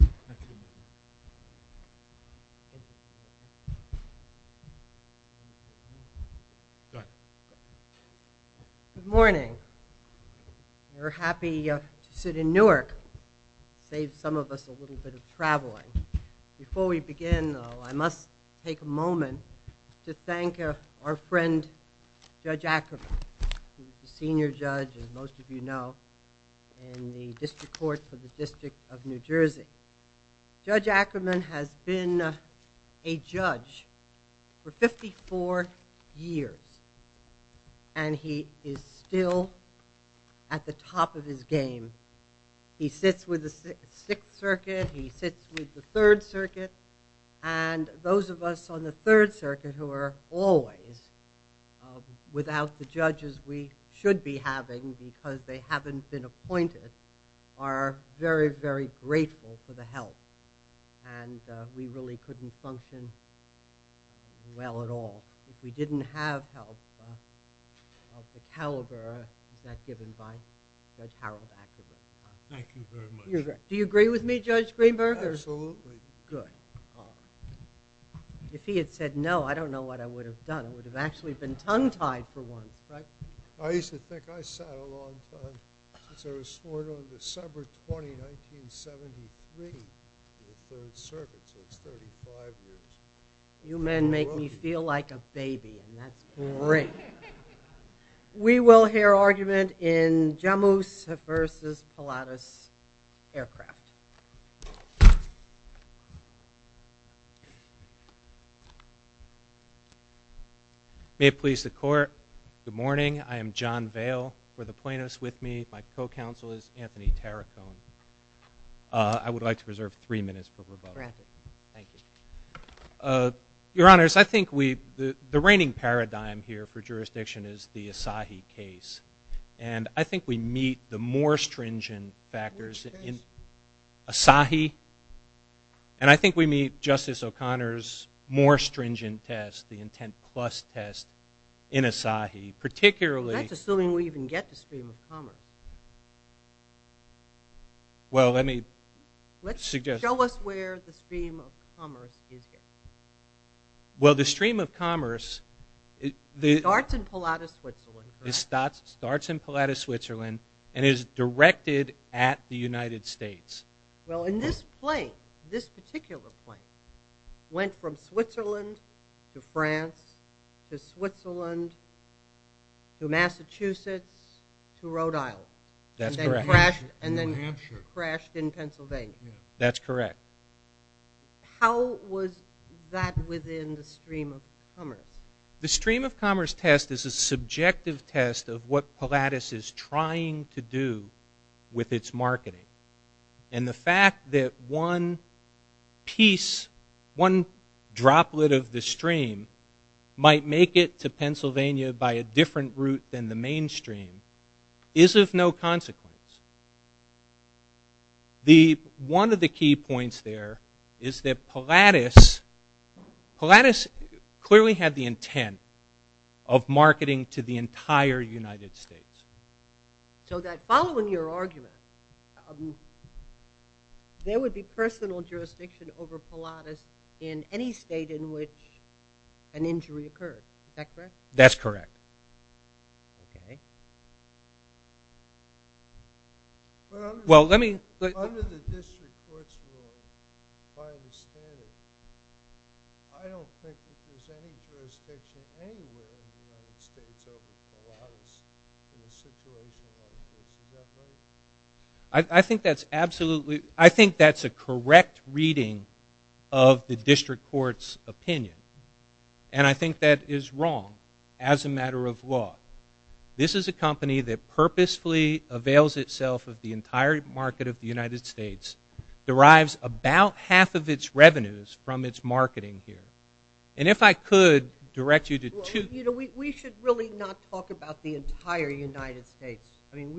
Good morning. We're happy to sit in Newark, save some of us a little bit of traveling. Before we begin, though, I must take a moment to thank our friend Judge Ackerman, who's the District Court for the District of New Jersey. Judge Ackerman has been a judge for 54 years, and he is still at the top of his game. He sits with the Sixth Circuit, he sits with the Third Circuit, and those of us on the Third Circuit who are always without the very, very grateful for the help, and we really couldn't function well at all if we didn't have help of the caliber that's given by Judge Harold Ackerman. Thank you very much. Do you agree with me, Judge Greenberg? Absolutely. Good. If he had said no, I don't know what I would have done. It would have actually been tongue-tied for once, right? I used to think I sat a long time, since I was sworn on December 20, 1973, to the Third Circuit, so it's 35 years. You men make me feel like a baby, and that's great. We will hear argument in Jammus v. Pilatus Aircraft. May it please the Court, good morning. I am John Vale. For the plaintiffs with me, my co-counsel is Anthony Taracone. I would like to reserve three minutes for rebuttal. Thank you. Your Honors, I think the reigning paradigm here for jurisdiction is the Asahi case, and I think we meet the more stringent factors in Asahi, and I think we meet Justice O'Connor's more stringent test, the intent plus test, in Asahi, particularly- That's assuming we even get the stream of commerce. Well, let me suggest- Show us where the stream of commerce is here. Well, the stream of commerce- Starts in Pilatus, Switzerland, correct? Starts in Pilatus, Switzerland, and is directed at the United States. Well, and this plane, this particular plane, went from Switzerland to France to Switzerland to Massachusetts to Rhode Island- That's correct. And then crashed in Pennsylvania. That's correct. How was that within the stream of commerce? The stream of commerce test is a subjective test of what Pilatus is trying to do with its marketing. And the fact that one piece, one droplet of the stream, might make it to Pennsylvania by a different route than the mainstream is of no consequence. One of the key points there is that Pilatus clearly had the intent of marketing to the entire United States. So that following your argument, there would be personal jurisdiction over Pilatus in any state in which an injury occurred, is that correct? That's correct. Okay. Well, let me- Under the district court's rule, if I understand it, I don't think that there's any jurisdiction anywhere in the United States over Pilatus in a situation like this, is that right? I think that's absolutely- I think that's a correct reading of the district court's opinion. And I think that is wrong as a matter of law. This is a company that purposefully avails itself of the entire market of the United States, derives about half of its revenues from its marketing here. And if I could direct you to two- Well, you know, we should really not talk about the entire United States. I mean,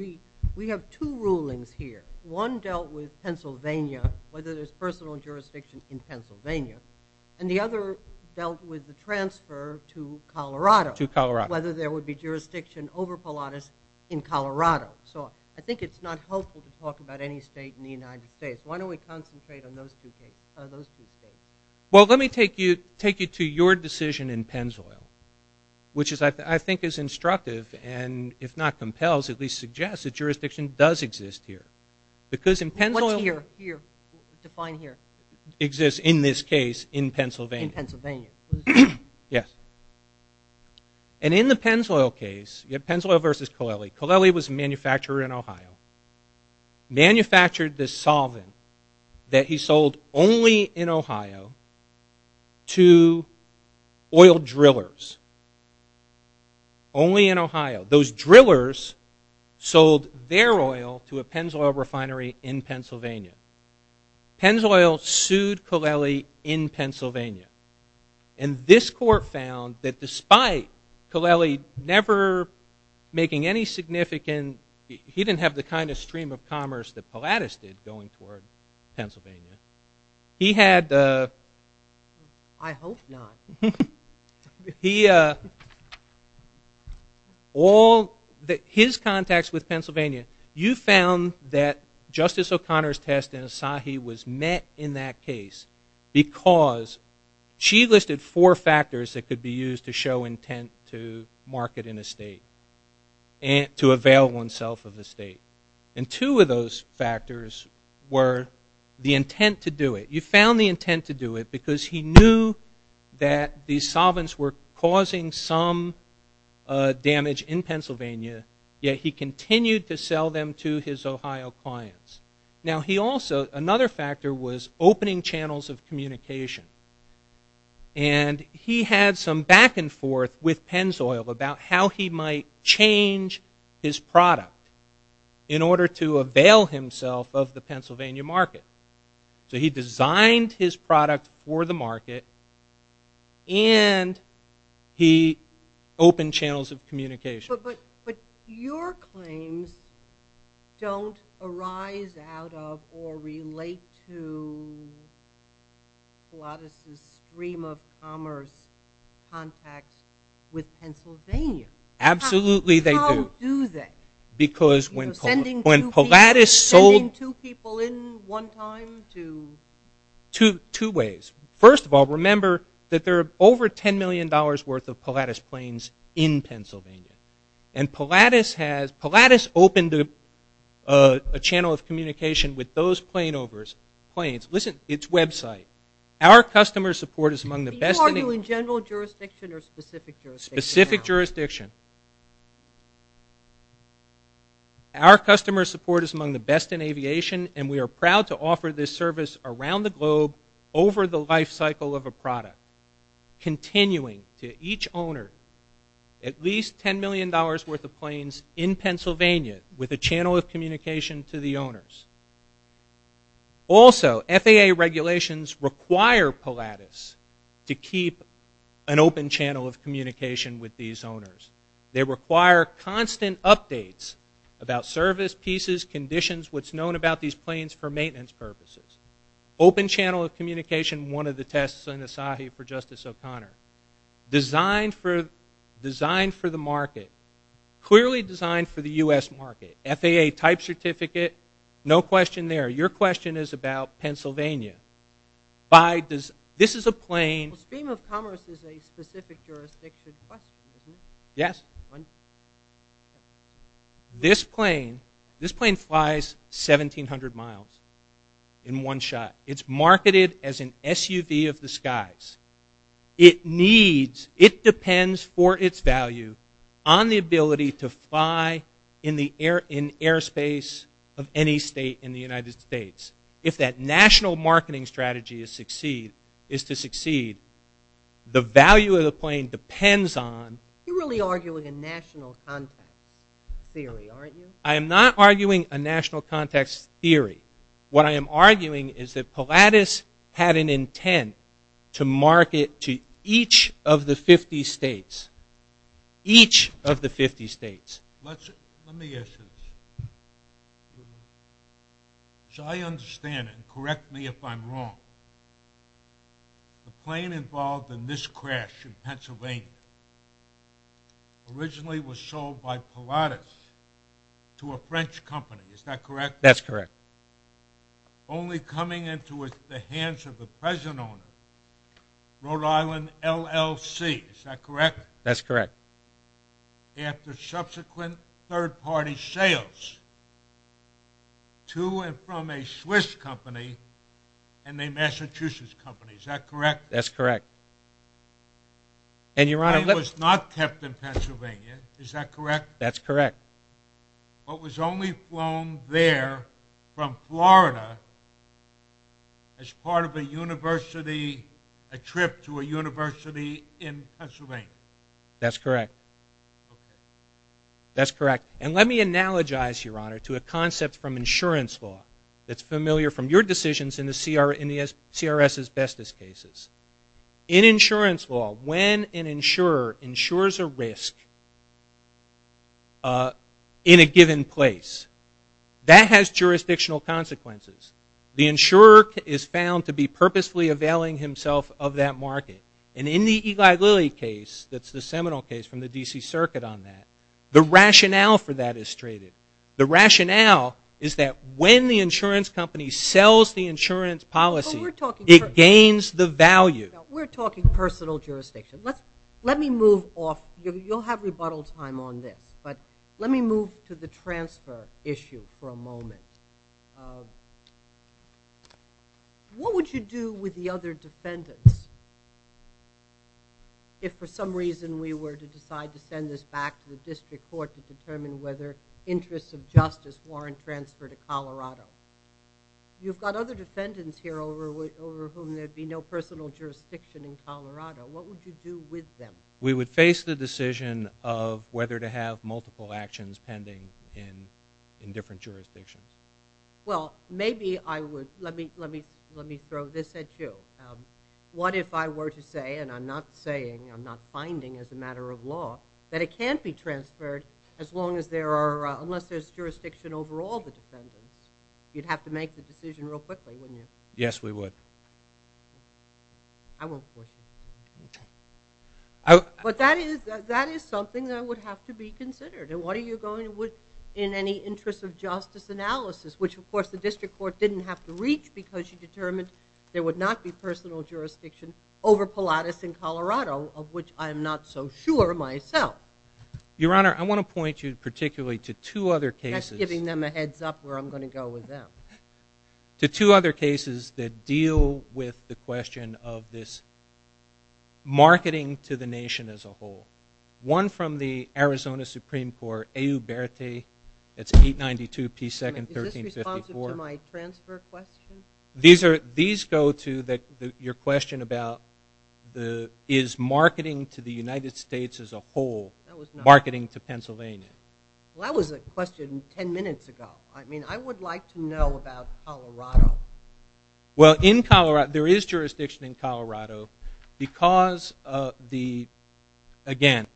we have two rulings here. One dealt with Pennsylvania, whether there's personal jurisdiction in Pennsylvania. And the other dealt with the transfer to Colorado. To Colorado. Whether there would be jurisdiction over Pilatus in Colorado. So I think it's not helpful to talk about any state in the United States. Why don't we concentrate on those two states? Well, let me take you to your decision in Pennzoil, which I think is instructive and if not compels, at least suggests that jurisdiction does exist here. Because in Pennzoil- What's here? Here. Define here. Exists in this case in Pennsylvania. In Pennsylvania. Yes. And in the Pennzoil case, you have Pennzoil versus Colelli. Colelli was a manufacturer in Ohio. Manufactured this solvent that he sold only in Ohio to oil drillers. Only in Ohio. Those drillers sold their oil to a Pennzoil refinery in Pennsylvania. Pennzoil sued Colelli in Pennsylvania. And this court found that despite Colelli never making any significant- He didn't have the kind of stream of commerce that Pilatus did going toward Pennsylvania. He had- I hope not. He- All his contacts with Pennsylvania. You found that Justice O'Connor's test in Asahi was met in that case because she listed four factors that could be used to show intent to market in a state and to avail oneself of the state. And two of those factors were the intent to do it. You found the intent to do it because he knew that these solvents were causing some damage in Pennsylvania, yet he continued to sell them to his Ohio clients. Now, he also- Another factor was opening channels of communication. And he had some back and forth with Pennzoil about how he might change his product in order to avail himself of the Pennsylvania market. So he designed his product for the market and he opened channels of communication. But your claims don't arise out of or relate to Pilatus' stream of commerce contacts with Pennsylvania. Absolutely they do. How do they? Because when Pilatus sold- From time to- Two ways. First of all, remember that there are over $10 million worth of Pilatus planes in Pennsylvania. And Pilatus has-Pilatus opened a channel of communication with those planes. Listen, its website. Our customer support is among the best- Are you in general jurisdiction or specific jurisdiction? Specific jurisdiction. Our customer support is among the best in aviation and we are proud to offer this service around the globe over the life cycle of a product, continuing to each owner at least $10 million worth of planes in Pennsylvania with a channel of communication to the owners. Also, FAA regulations require Pilatus to keep an open channel of communication with these owners. They require constant updates about service, pieces, conditions, what's known about these planes for maintenance purposes. Open channel of communication, one of the tests in Asahi for Justice O'Connor. Designed for the market. Clearly designed for the U.S. market. FAA type certificate. No question there. Your question is about Pennsylvania. This is a plane- The scheme of commerce is a specific jurisdiction question, isn't it? Yes. This plane flies 1,700 miles in one shot. It's marketed as an SUV of the skies. It needs, it depends for its value on the ability to fly in airspace of any state in the United States. If that national marketing strategy is to succeed, the value of the plane depends on- You're really arguing a national context theory, aren't you? I am not arguing a national context theory. What I am arguing is that Pilatus had an intent to market to each of the 50 states. Each of the 50 states. Let me ask you this. As I understand it, correct me if I'm wrong, the plane involved in this crash in Pennsylvania originally was sold by Pilatus to a French company, is that correct? That's correct. Only coming into the hands of the present owner, Rhode Island LLC, is that correct? That's correct. After subsequent third-party sales to and from a Swiss company and a Massachusetts company, is that correct? That's correct. The plane was not kept in Pennsylvania, is that correct? That's correct. But was only flown there from Florida as part of a trip to a university in Pennsylvania. That's correct. That's correct. And let me analogize, Your Honor, to a concept from insurance law that's familiar from your decisions in the CRS's bestest cases. In insurance law, when an insurer insures a risk in a given place, that has jurisdictional consequences. The insurer is found to be purposefully availing himself of that market. And in the Eli Lilly case, that's the seminal case from the D.C. Circuit on that, the rationale for that is straighted. The rationale is that when the insurance company sells the insurance policy, it gains the value. We're talking personal jurisdiction. Let me move off. You'll have rebuttal time on this. But let me move to the transfer issue for a moment. What would you do with the other defendants if for some reason we were to decide to send this back to the district court to determine whether interests of justice warrant transfer to Colorado? You've got other defendants here over whom there'd be no personal jurisdiction in Colorado. What would you do with them? We would face the decision of whether to have multiple actions pending in different jurisdictions. Well, maybe I would. Let me throw this at you. What if I were to say, and I'm not saying, I'm not finding as a matter of law, that it can't be transferred as long as there are, unless there's jurisdiction over all the defendants? You'd have to make the decision real quickly, wouldn't you? Yes, we would. I won't force you. But that is something that would have to be considered. And what are you going to do in any interest of justice analysis, which, of course, the district court didn't have to reach because you determined there would not be personal jurisdiction over Pilatus in Colorado, of which I'm not so sure myself. Your Honor, I want to point you particularly to two other cases. That's giving them a heads up where I'm going to go with them. To two other cases that deal with the question of this marketing to the nation as a whole. One from the Arizona Supreme Court, AU Berete, that's 892 P. 2nd, 1354. Is this responsive to my transfer question? These go to your question about is marketing to the United States as a whole marketing to Pennsylvania? Well, that was a question ten minutes ago. I mean, I would like to know about Colorado. Well, there is jurisdiction in Colorado because, again,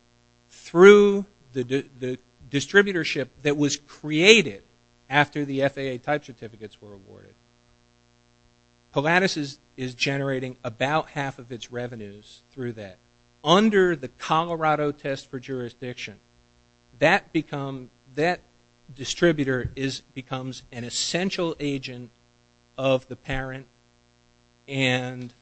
through the distributorship that was created after the FAA type certificates were awarded, Pilatus is generating about half of its revenues through that. Under the Colorado test for jurisdiction, that distributor becomes an essential agent of the parent, and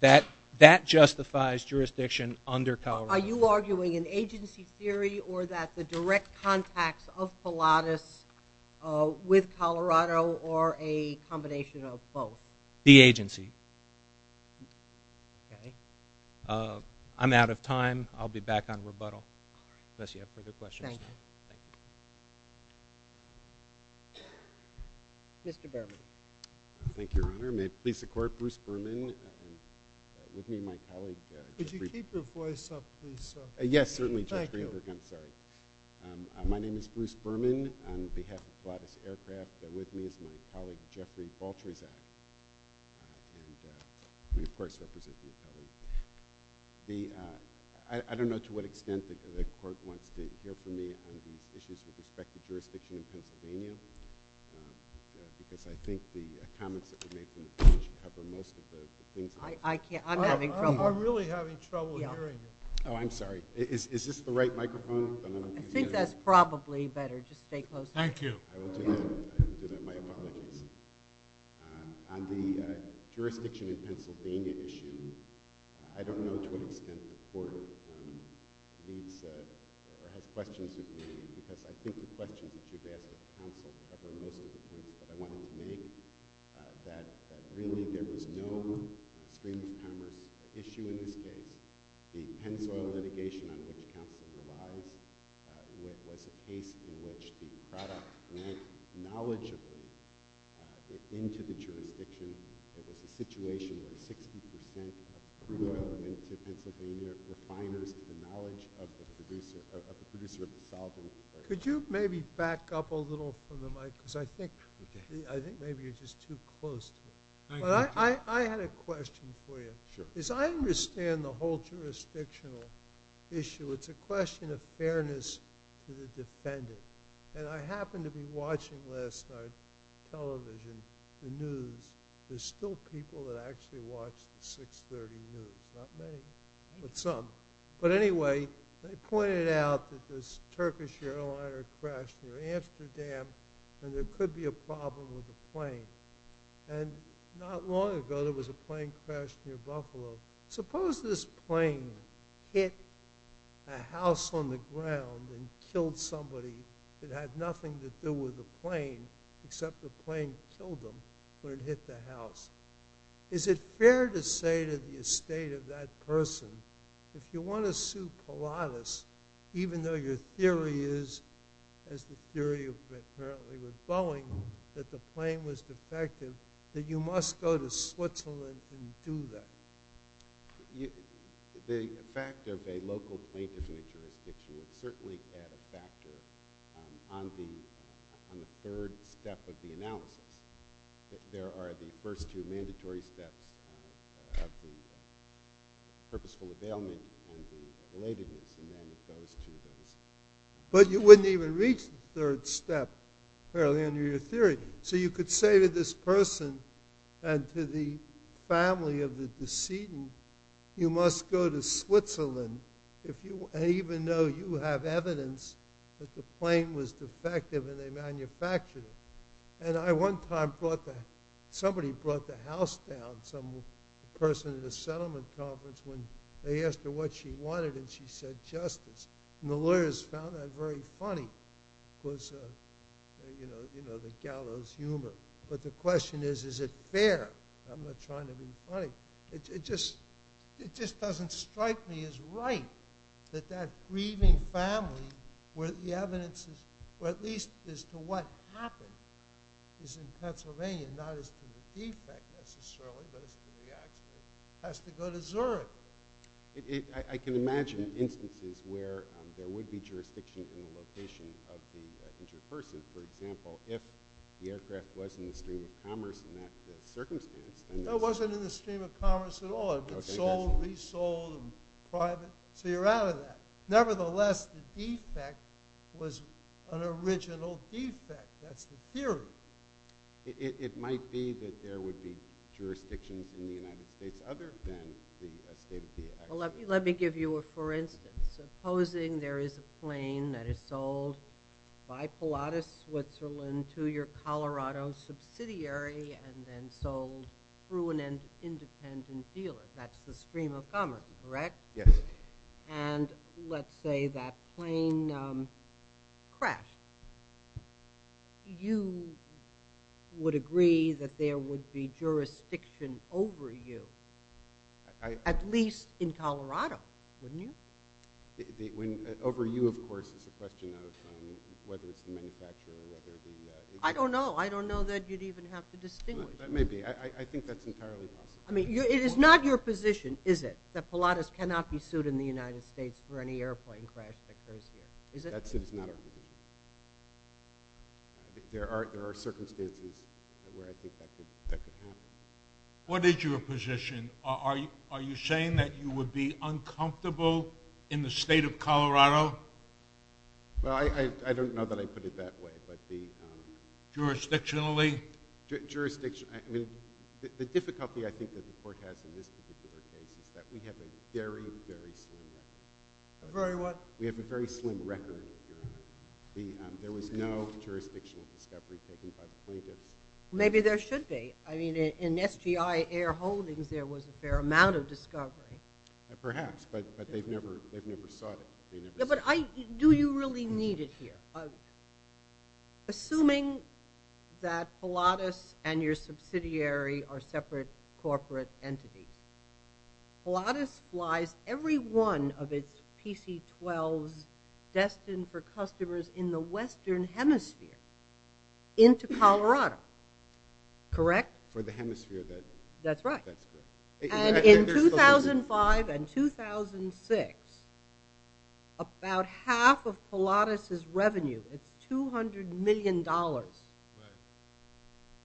that justifies jurisdiction under Colorado. Are you arguing an agency theory or that the direct contacts of Pilatus with Colorado or a combination of both? The agency. Okay. I'm out of time. I'll be back on rebuttal unless you have further questions. Thank you. Thank you. Mr. Berman. Thank you, Your Honor. May it please the Court, Bruce Berman with me and my colleague, Judge Greenberg. Would you keep your voice up, please, sir? Yes, certainly, Judge Greenberg. Thank you. I'm sorry. My name is Bruce Berman on behalf of Pilatus Aircraft. With me is my colleague, Jeffrey Baltresac. And we, of course, represent the Atelier. I don't know to what extent the Court wants to hear from me on these issues with respect to jurisdiction in Pennsylvania because I think the comments that were made from the bench cover most of the things. I can't. I'm having trouble. I'm really having trouble hearing you. Oh, I'm sorry. Is this the right microphone? I think that's probably better. Just stay close to me. Thank you. I will do that. I will do that. My apologies. On the jurisdiction in Pennsylvania issue, I don't know to what extent the Court leads or has questions with me because I think the questions that you've asked at the Council cover most of the points that I wanted to make, that really there was no extreme commerce issue in this case. The Pennsoil litigation on which Council relies was a case in which the product went knowledgeably into the jurisdiction. It was a situation where 60% of the oil went to Pennsylvania refiners with the knowledge of the producer of the solvent. Could you maybe back up a little from the mic because I think maybe you're just too close to me. I had a question for you. As I understand the whole jurisdictional issue, it's a question of fairness to the defendant. And I happened to be watching last night television, the news. There's still people that actually watch the 6.30 news, not many, but some. But anyway, they pointed out that this Turkish airliner crashed near Amsterdam and there could be a problem with the plane. And not long ago there was a plane crash near Buffalo. Suppose this plane hit a house on the ground and killed somebody that had nothing to do with the plane except the plane killed them when it hit the house. Is it fair to say to the estate of that person, if you want to sue Pilatus, even though your theory is, as the theory apparently was with Boeing, that the plane was defective, that you must go to Switzerland and do that? The fact of a local plaintiff in a jurisdiction would certainly add a factor on the third step of the analysis. There are the first two mandatory steps of the purposeful availment and the relatedness. But you wouldn't even reach the third step, apparently, under your theory. So you could say to this person and to the family of the decedent, you must go to Switzerland even though you have evidence that the plane was defective and they manufactured it. Somebody brought the house down, a person at a settlement conference, when they asked her what she wanted and she said justice. And the lawyers found that very funny because of the gallows humor. But the question is, is it fair? I'm not trying to be funny. It just doesn't strike me as right that that grieving family, where the evidence is, or at least as to what happened, is in Pennsylvania, not as to the defect necessarily, but as to the accident, has to go to Zurich. I can imagine instances where there would be jurisdiction in the location of the injured person. For example, if the aircraft was in the stream of commerce in that circumstance. It wasn't in the stream of commerce at all. It was sold, resold, private. So you're out of that. Nevertheless, the defect was an original defect. That's the theory. It might be that there would be jurisdictions in the United States other than the state of the air. Let me give you a for instance. Supposing there is a plane that is sold by Pilatus Switzerland to your Colorado subsidiary and then sold through an independent dealer. That's the stream of commerce, correct? Yes. And let's say that plane crashed. You would agree that there would be jurisdiction over you, at least in Colorado, wouldn't you? Over you, of course, is a question of whether it's the manufacturer or whether the— I don't know. I don't know that you'd even have to distinguish. That may be. I think that's entirely possible. It is not your position, is it, that Pilatus cannot be sued in the United States for any airplane crash that occurs here? That's not our position. There are circumstances where I think that could happen. What is your position? Are you saying that you would be uncomfortable in the state of Colorado? Well, I don't know that I'd put it that way. Jurisdictionally? The difficulty I think that the court has in this particular case is that we have a very, very slim record. A very what? We have a very slim record. There was no jurisdictional discovery taken by the plaintiffs. Maybe there should be. In SGI Air Holdings there was a fair amount of discovery. Perhaps, but they've never sought it. But do you really need it here? Assuming that Pilatus and your subsidiary are separate corporate entities, Pilatus flies every one of its PC-12s destined for customers in the western hemisphere into Colorado, correct? For the hemisphere that— That's right. And in 2005 and 2006, about half of Pilatus's revenue, its $200 million,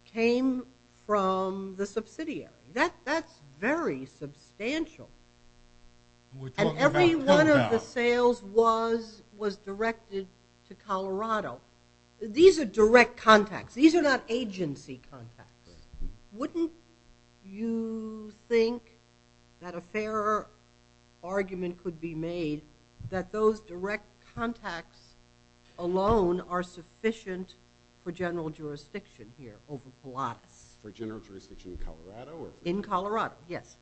came from the subsidiary. That's very substantial. And every one of the sales was directed to Colorado. These are direct contacts. These are not agency contacts. Wouldn't you think that a fairer argument could be made that those direct contacts alone are sufficient for general jurisdiction here over Pilatus? For general jurisdiction in Colorado? In Colorado, yes.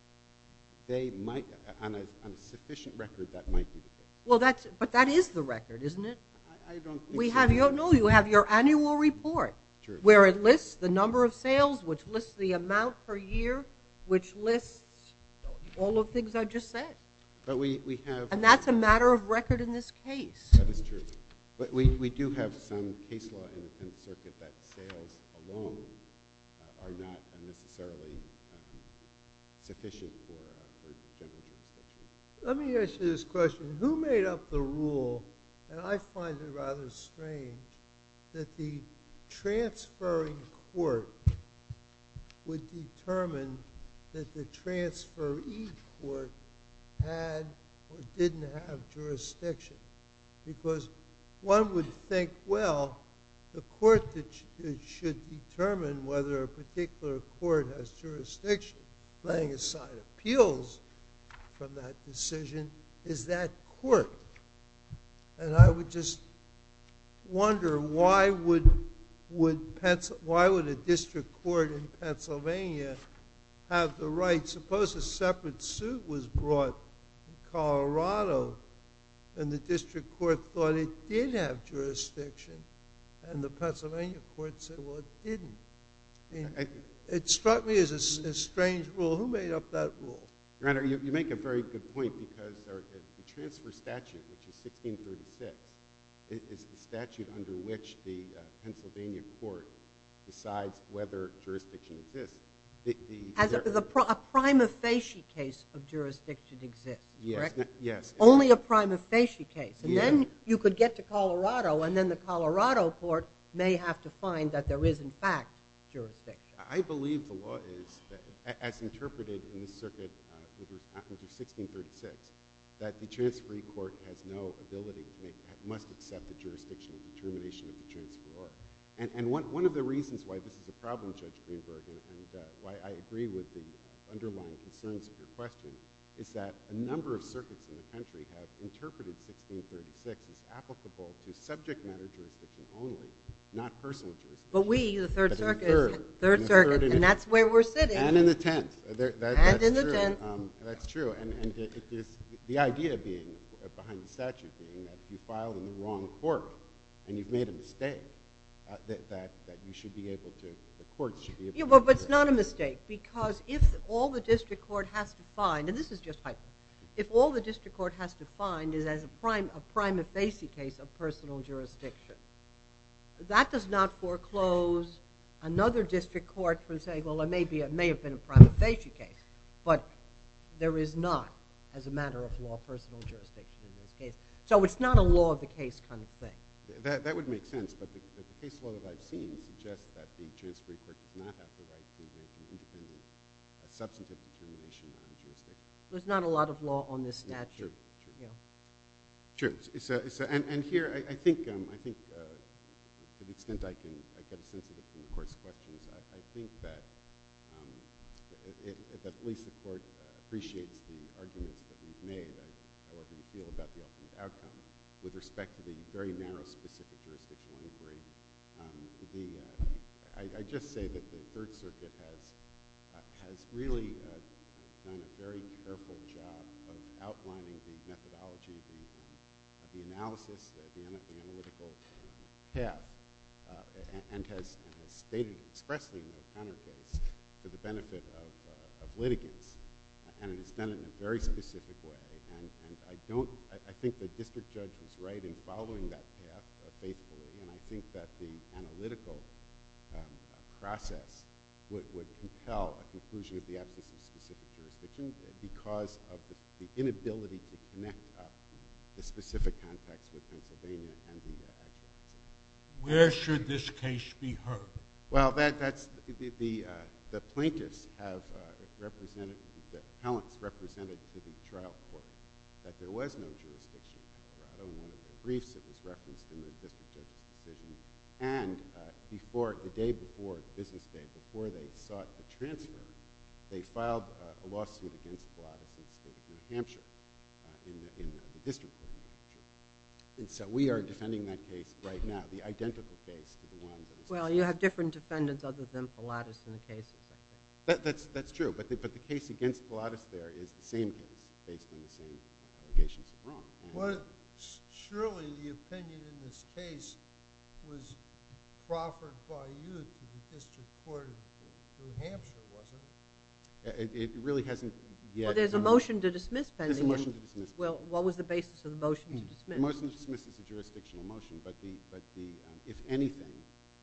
On a sufficient record, that might be the case. But that is the record, isn't it? I don't think so. No, you have your annual report where it lists the number of sales, which lists the amount per year, which lists all of the things I just said. And that's a matter of record in this case. That is true. But we do have some case law in the circuit that sales alone are not necessarily sufficient for general jurisdiction. Let me ask you this question. Who made up the rule, and I find it rather strange, that the transferring court would determine that the transferee court had or didn't have jurisdiction? Because one would think, well, the court should determine whether a particular court has jurisdiction. Laying aside appeals from that decision, is that court? And I would just wonder, why would a district court in Pennsylvania have the right? I suppose a separate suit was brought in Colorado, and the district court thought it did have jurisdiction, and the Pennsylvania court said, well, it didn't. It struck me as a strange rule. Who made up that rule? Your Honor, you make a very good point, because the transfer statute, which is 1636, is the statute under which the Pennsylvania court decides whether jurisdiction exists. A prima facie case of jurisdiction exists, correct? Yes. Only a prima facie case. And then you could get to Colorado, and then the Colorado court may have to find that there is, in fact, jurisdiction. I believe the law is, as interpreted in the circuit under 1636, that the transferee court has no ability to make that, must accept the jurisdiction determination of the transferor. And one of the reasons why this is a problem, Judge Greenberg, and why I agree with the underlying concerns of your question, is that a number of circuits in the country have interpreted 1636 as applicable to subject matter jurisdiction only, not personal jurisdiction. But we, the Third Circuit, and that's where we're sitting. And in the Tenth. And in the Tenth. That's true. And the idea behind the statute being that you filed in the wrong court, and you've made a mistake, that you should be able to, the court should be able to. But it's not a mistake, because if all the district court has to find, and this is just hypothetical, if all the district court has to find is a prima facie case of personal jurisdiction, that does not foreclose another district court from saying, well, there may have been a prima facie case. But there is not, as a matter of law, personal jurisdiction in this case. So it's not a law of the case kind of thing. That would make sense. But the case law that I've seen suggests that the transferee court does not have the right to make an independent substantive determination on jurisdiction. There's not a lot of law on this statute. True. True. And here, I think to the extent I can get a sense of the Supreme Court's questions, I think that at least the court appreciates the arguments that we've made, however you feel about the ultimate outcome, with respect to the very narrow, specific jurisdictional inquiry. I just say that the Third Circuit has really done a very careful job of outlining the methodology, the analysis, the analytical path, and has stated expressly in the counter case for the benefit of litigants. And it has done it in a very specific way. And I think the district judge was right in following that path faithfully. And I think that the analytical process would compel a conclusion of the absence of specific jurisdiction because of the inability to connect the specific context with Pennsylvania and the agency. Where should this case be heard? Well, the plaintiffs have represented, the appellants represented to the trial court that there was no jurisdiction. In one of the briefs, it was referenced in the district judge's decision. And the day before, business day, before they sought the transfer, they filed a lawsuit against Gladys in the state of New Hampshire, in the district of New Hampshire. And so we are defending that case right now, the identical case to the one that was filed. Well, you have different defendants other than Gladys in the cases, I think. That's true. But the case against Gladys there is the same case based on the same allegations of wrong. Well, surely the opinion in this case was proffered by you to the district court in New Hampshire, wasn't it? It really hasn't yet. Well, there's a motion to dismiss pending. There's a motion to dismiss. Well, what was the basis of the motion to dismiss? The motion to dismiss is a jurisdictional motion. But if anything,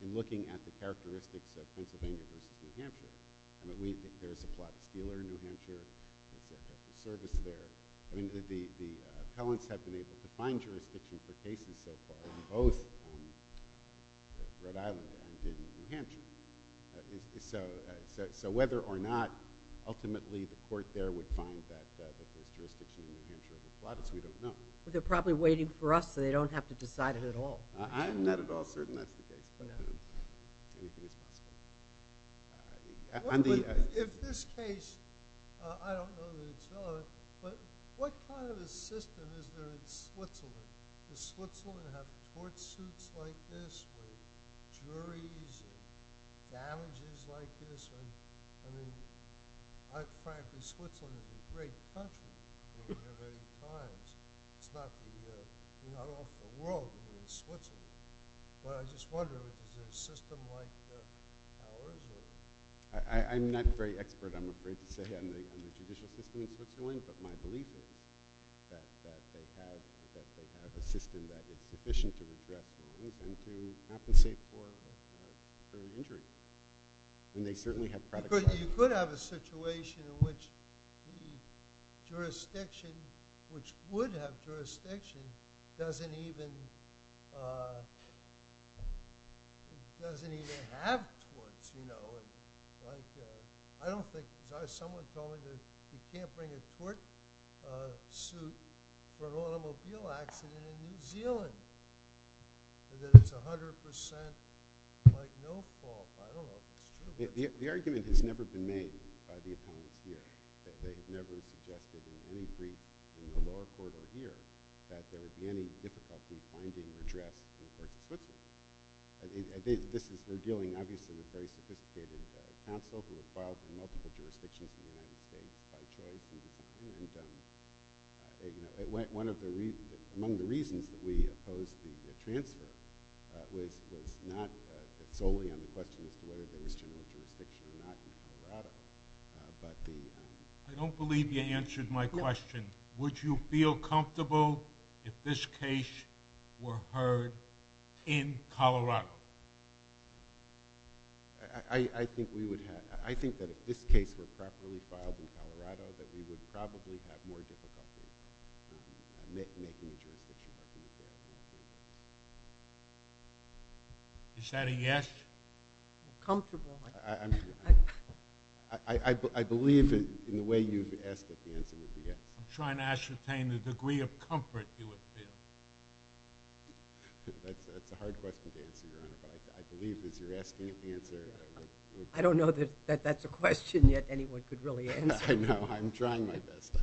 in looking at the characteristics of Pennsylvania versus New Hampshire, if there's a Gladys dealer in New Hampshire, there's a service there. I mean, the appellants have been able to find jurisdiction for cases so far in both Rhode Island and in New Hampshire. So whether or not ultimately the court there would find that there's jurisdiction in New Hampshire for Gladys, we don't know. Well, they're probably waiting for us, so they don't have to decide it at all. I'm not at all certain that's the case. Anything is possible. In this case, I don't know that it's known, but what part of the system is there in Switzerland? Does Switzerland have court suits like this with juries and damages like this? I mean, frankly, Switzerland is a great country in many, many times. You're not off the road when you're in Switzerland. But I just wonder, is there a system like ours? I'm not very expert, I'm afraid to say, on the judicial system in Switzerland. But my belief is that they have a system that is sufficient to redress wrongs and to compensate for an injury. You could have a situation in which the jurisdiction, which would have jurisdiction, doesn't even have torts. I don't think so. Someone told me that you can't bring a tort suit for an automobile accident in New Zealand. And that it's 100% like no fault. I don't know if it's true. The argument has never been made by the opponents here. They have never suggested in any brief in the lower court or here that there would be any difficulty finding redress in versus Switzerland. They're dealing, obviously, with very sophisticated counsel who has filed in multiple jurisdictions in the United States by choice. Among the reasons that we opposed the transfer was not solely on the question as to whether there was general jurisdiction or not in Colorado. I don't believe you answered my question. Would you feel comfortable if this case were heard in Colorado? I think that if this case were properly filed in Colorado, that we would probably have more difficulty making the jurisdiction up in New Zealand. Is that a yes? Comfortable. I believe in the way you've asked that the answer would be yes. I'm trying to ascertain the degree of comfort you would feel. That's a hard question to answer, Your Honor. But I believe as you're asking it, the answer would be yes. I don't know that that's a question that anyone could really answer. I know. I'm trying my best.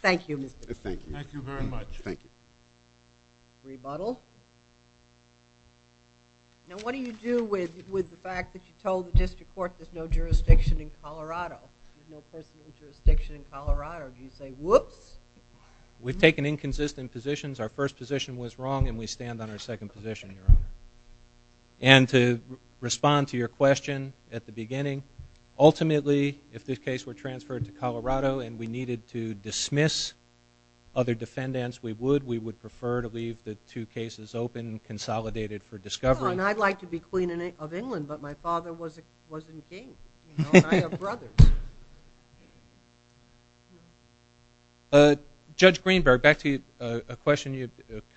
Thank you, Mr. Chief. Thank you. Thank you very much. Thank you. Rebuttal. Now, what do you do with the fact that you told the district court there's no jurisdiction in Colorado? There's no personal jurisdiction in Colorado. Do you say, whoops? We've taken inconsistent positions. Our first position was wrong, and we stand on our second position, Your Honor. And to respond to your question at the beginning, ultimately, if this case were transferred to Colorado and we needed to dismiss other defendants, we would. We would prefer to leave the two cases open and consolidated for discovery. Sure, and I'd like to be Queen of England, but my father wasn't king. I have brothers. Judge Greenberg, back to a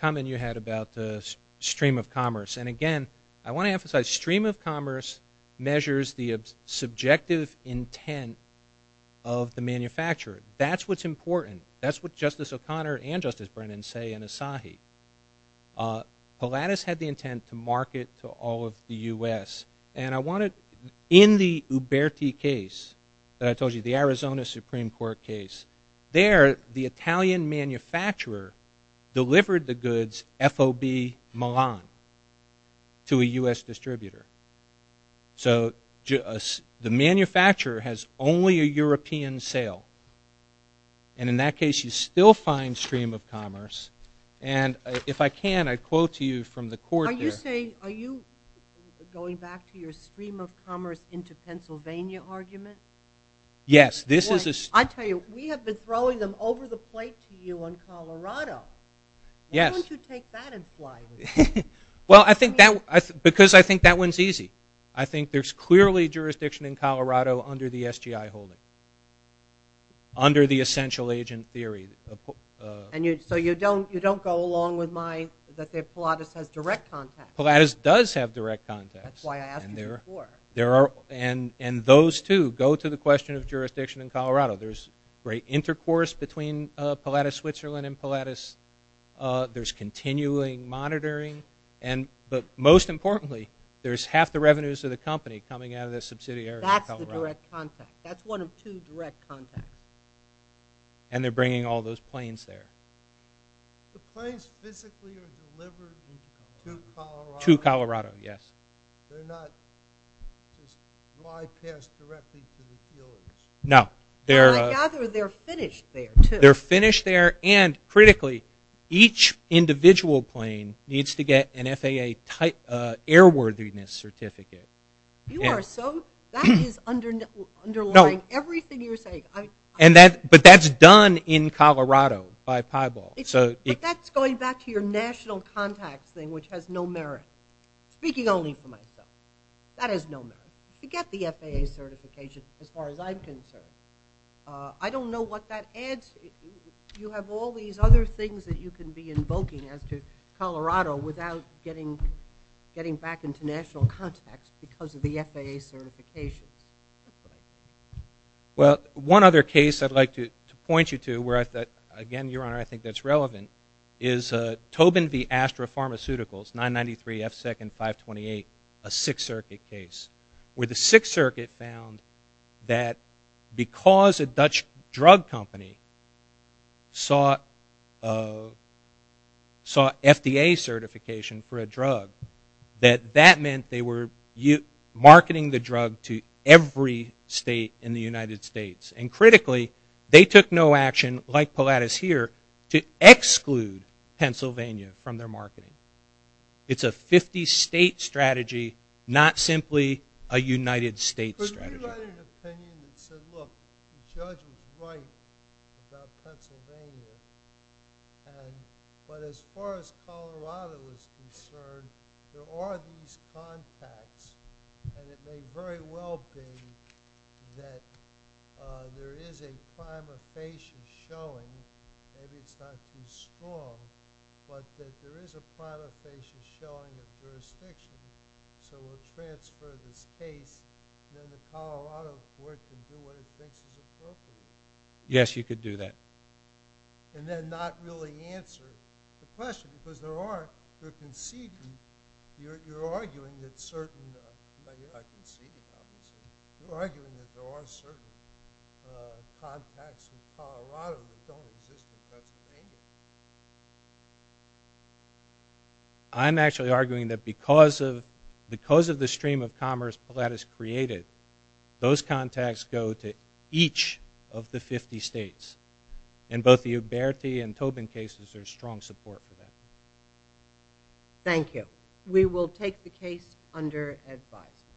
comment you had about the stream of commerce. And again, I want to emphasize stream of commerce measures the subjective intent of the manufacturer. That's what's important. That's what Justice O'Connor and Justice Brennan say in Asahi. Pilatus had the intent to market to all of the U.S. And I wanted, in the Uberti case that I told you, the Arizona Supreme Court case, there, the Italian manufacturer delivered the goods FOB Milan to a U.S. distributor. So the manufacturer has only a European sale. And in that case, you still find stream of commerce. And if I can, I'd quote to you from the court there. Are you going back to your stream of commerce into Pennsylvania argument? Yes. I tell you, we have been throwing them over the plate to you in Colorado. Why don't you take that in flight? Well, because I think that one's easy. I think there's clearly jurisdiction in Colorado under the SGI holding, under the essential agent theory. So you don't go along with my, that Pilatus has direct contacts. Pilatus does have direct contacts. That's why I asked you before. And those, too, go to the question of jurisdiction in Colorado. There's great intercourse between Pilatus Switzerland and Pilatus. There's continuing monitoring. But most importantly, there's half the revenues of the company coming out of the subsidiary in Colorado. That's the direct contact. That's one of two direct contacts. And they're bringing all those planes there. The planes physically are delivered to Colorado? To Colorado, yes. They're not just fly past directly to the Pilatus? No. I gather they're finished there, too. They're finished there. And critically, each individual plane needs to get an FAA airworthiness certificate. You are so, that is underlying everything you're saying. But that's done in Colorado by pieball. But that's going back to your national contacts thing, which has no merit. Speaking only for myself, that has no merit. You get the FAA certification, as far as I'm concerned. I don't know what that adds. You have all these other things that you can be invoking as to Colorado without getting back into national contacts because of the FAA certifications. Well, one other case I'd like to point you to where, again, Your Honor, I think that's relevant, is Tobin v. Astra Pharmaceuticals, 993 F2nd 528, a Sixth Circuit case, where the Sixth Circuit found that because a Dutch drug company saw FDA certification for a drug, that that meant they were marketing the drug to every state in the United States. And critically, they took no action, like Pilatus here, to exclude Pennsylvania from their marketing. It's a 50-state strategy, not simply a United States strategy. You had an opinion that said, look, the judge was right about Pennsylvania. But as far as Colorado is concerned, there are these contacts, and it may very well be that there is a prima facie showing, maybe it's not too strong, but that there is a prima facie showing of jurisdiction, so we'll transfer this case. Then the Colorado court can do what it thinks is appropriate. Yes, you could do that. And then not really answer the question because there are, you're conceding, you're arguing that certain, well, you're not conceding, obviously, you're arguing that there are certain contacts in Colorado that don't exist in Pennsylvania. I'm actually arguing that because of the stream of commerce Pilatus created, those contacts go to each of the 50 states. And both the Uberti and Tobin cases are strong support for that. Thank you. We will take the case under advice.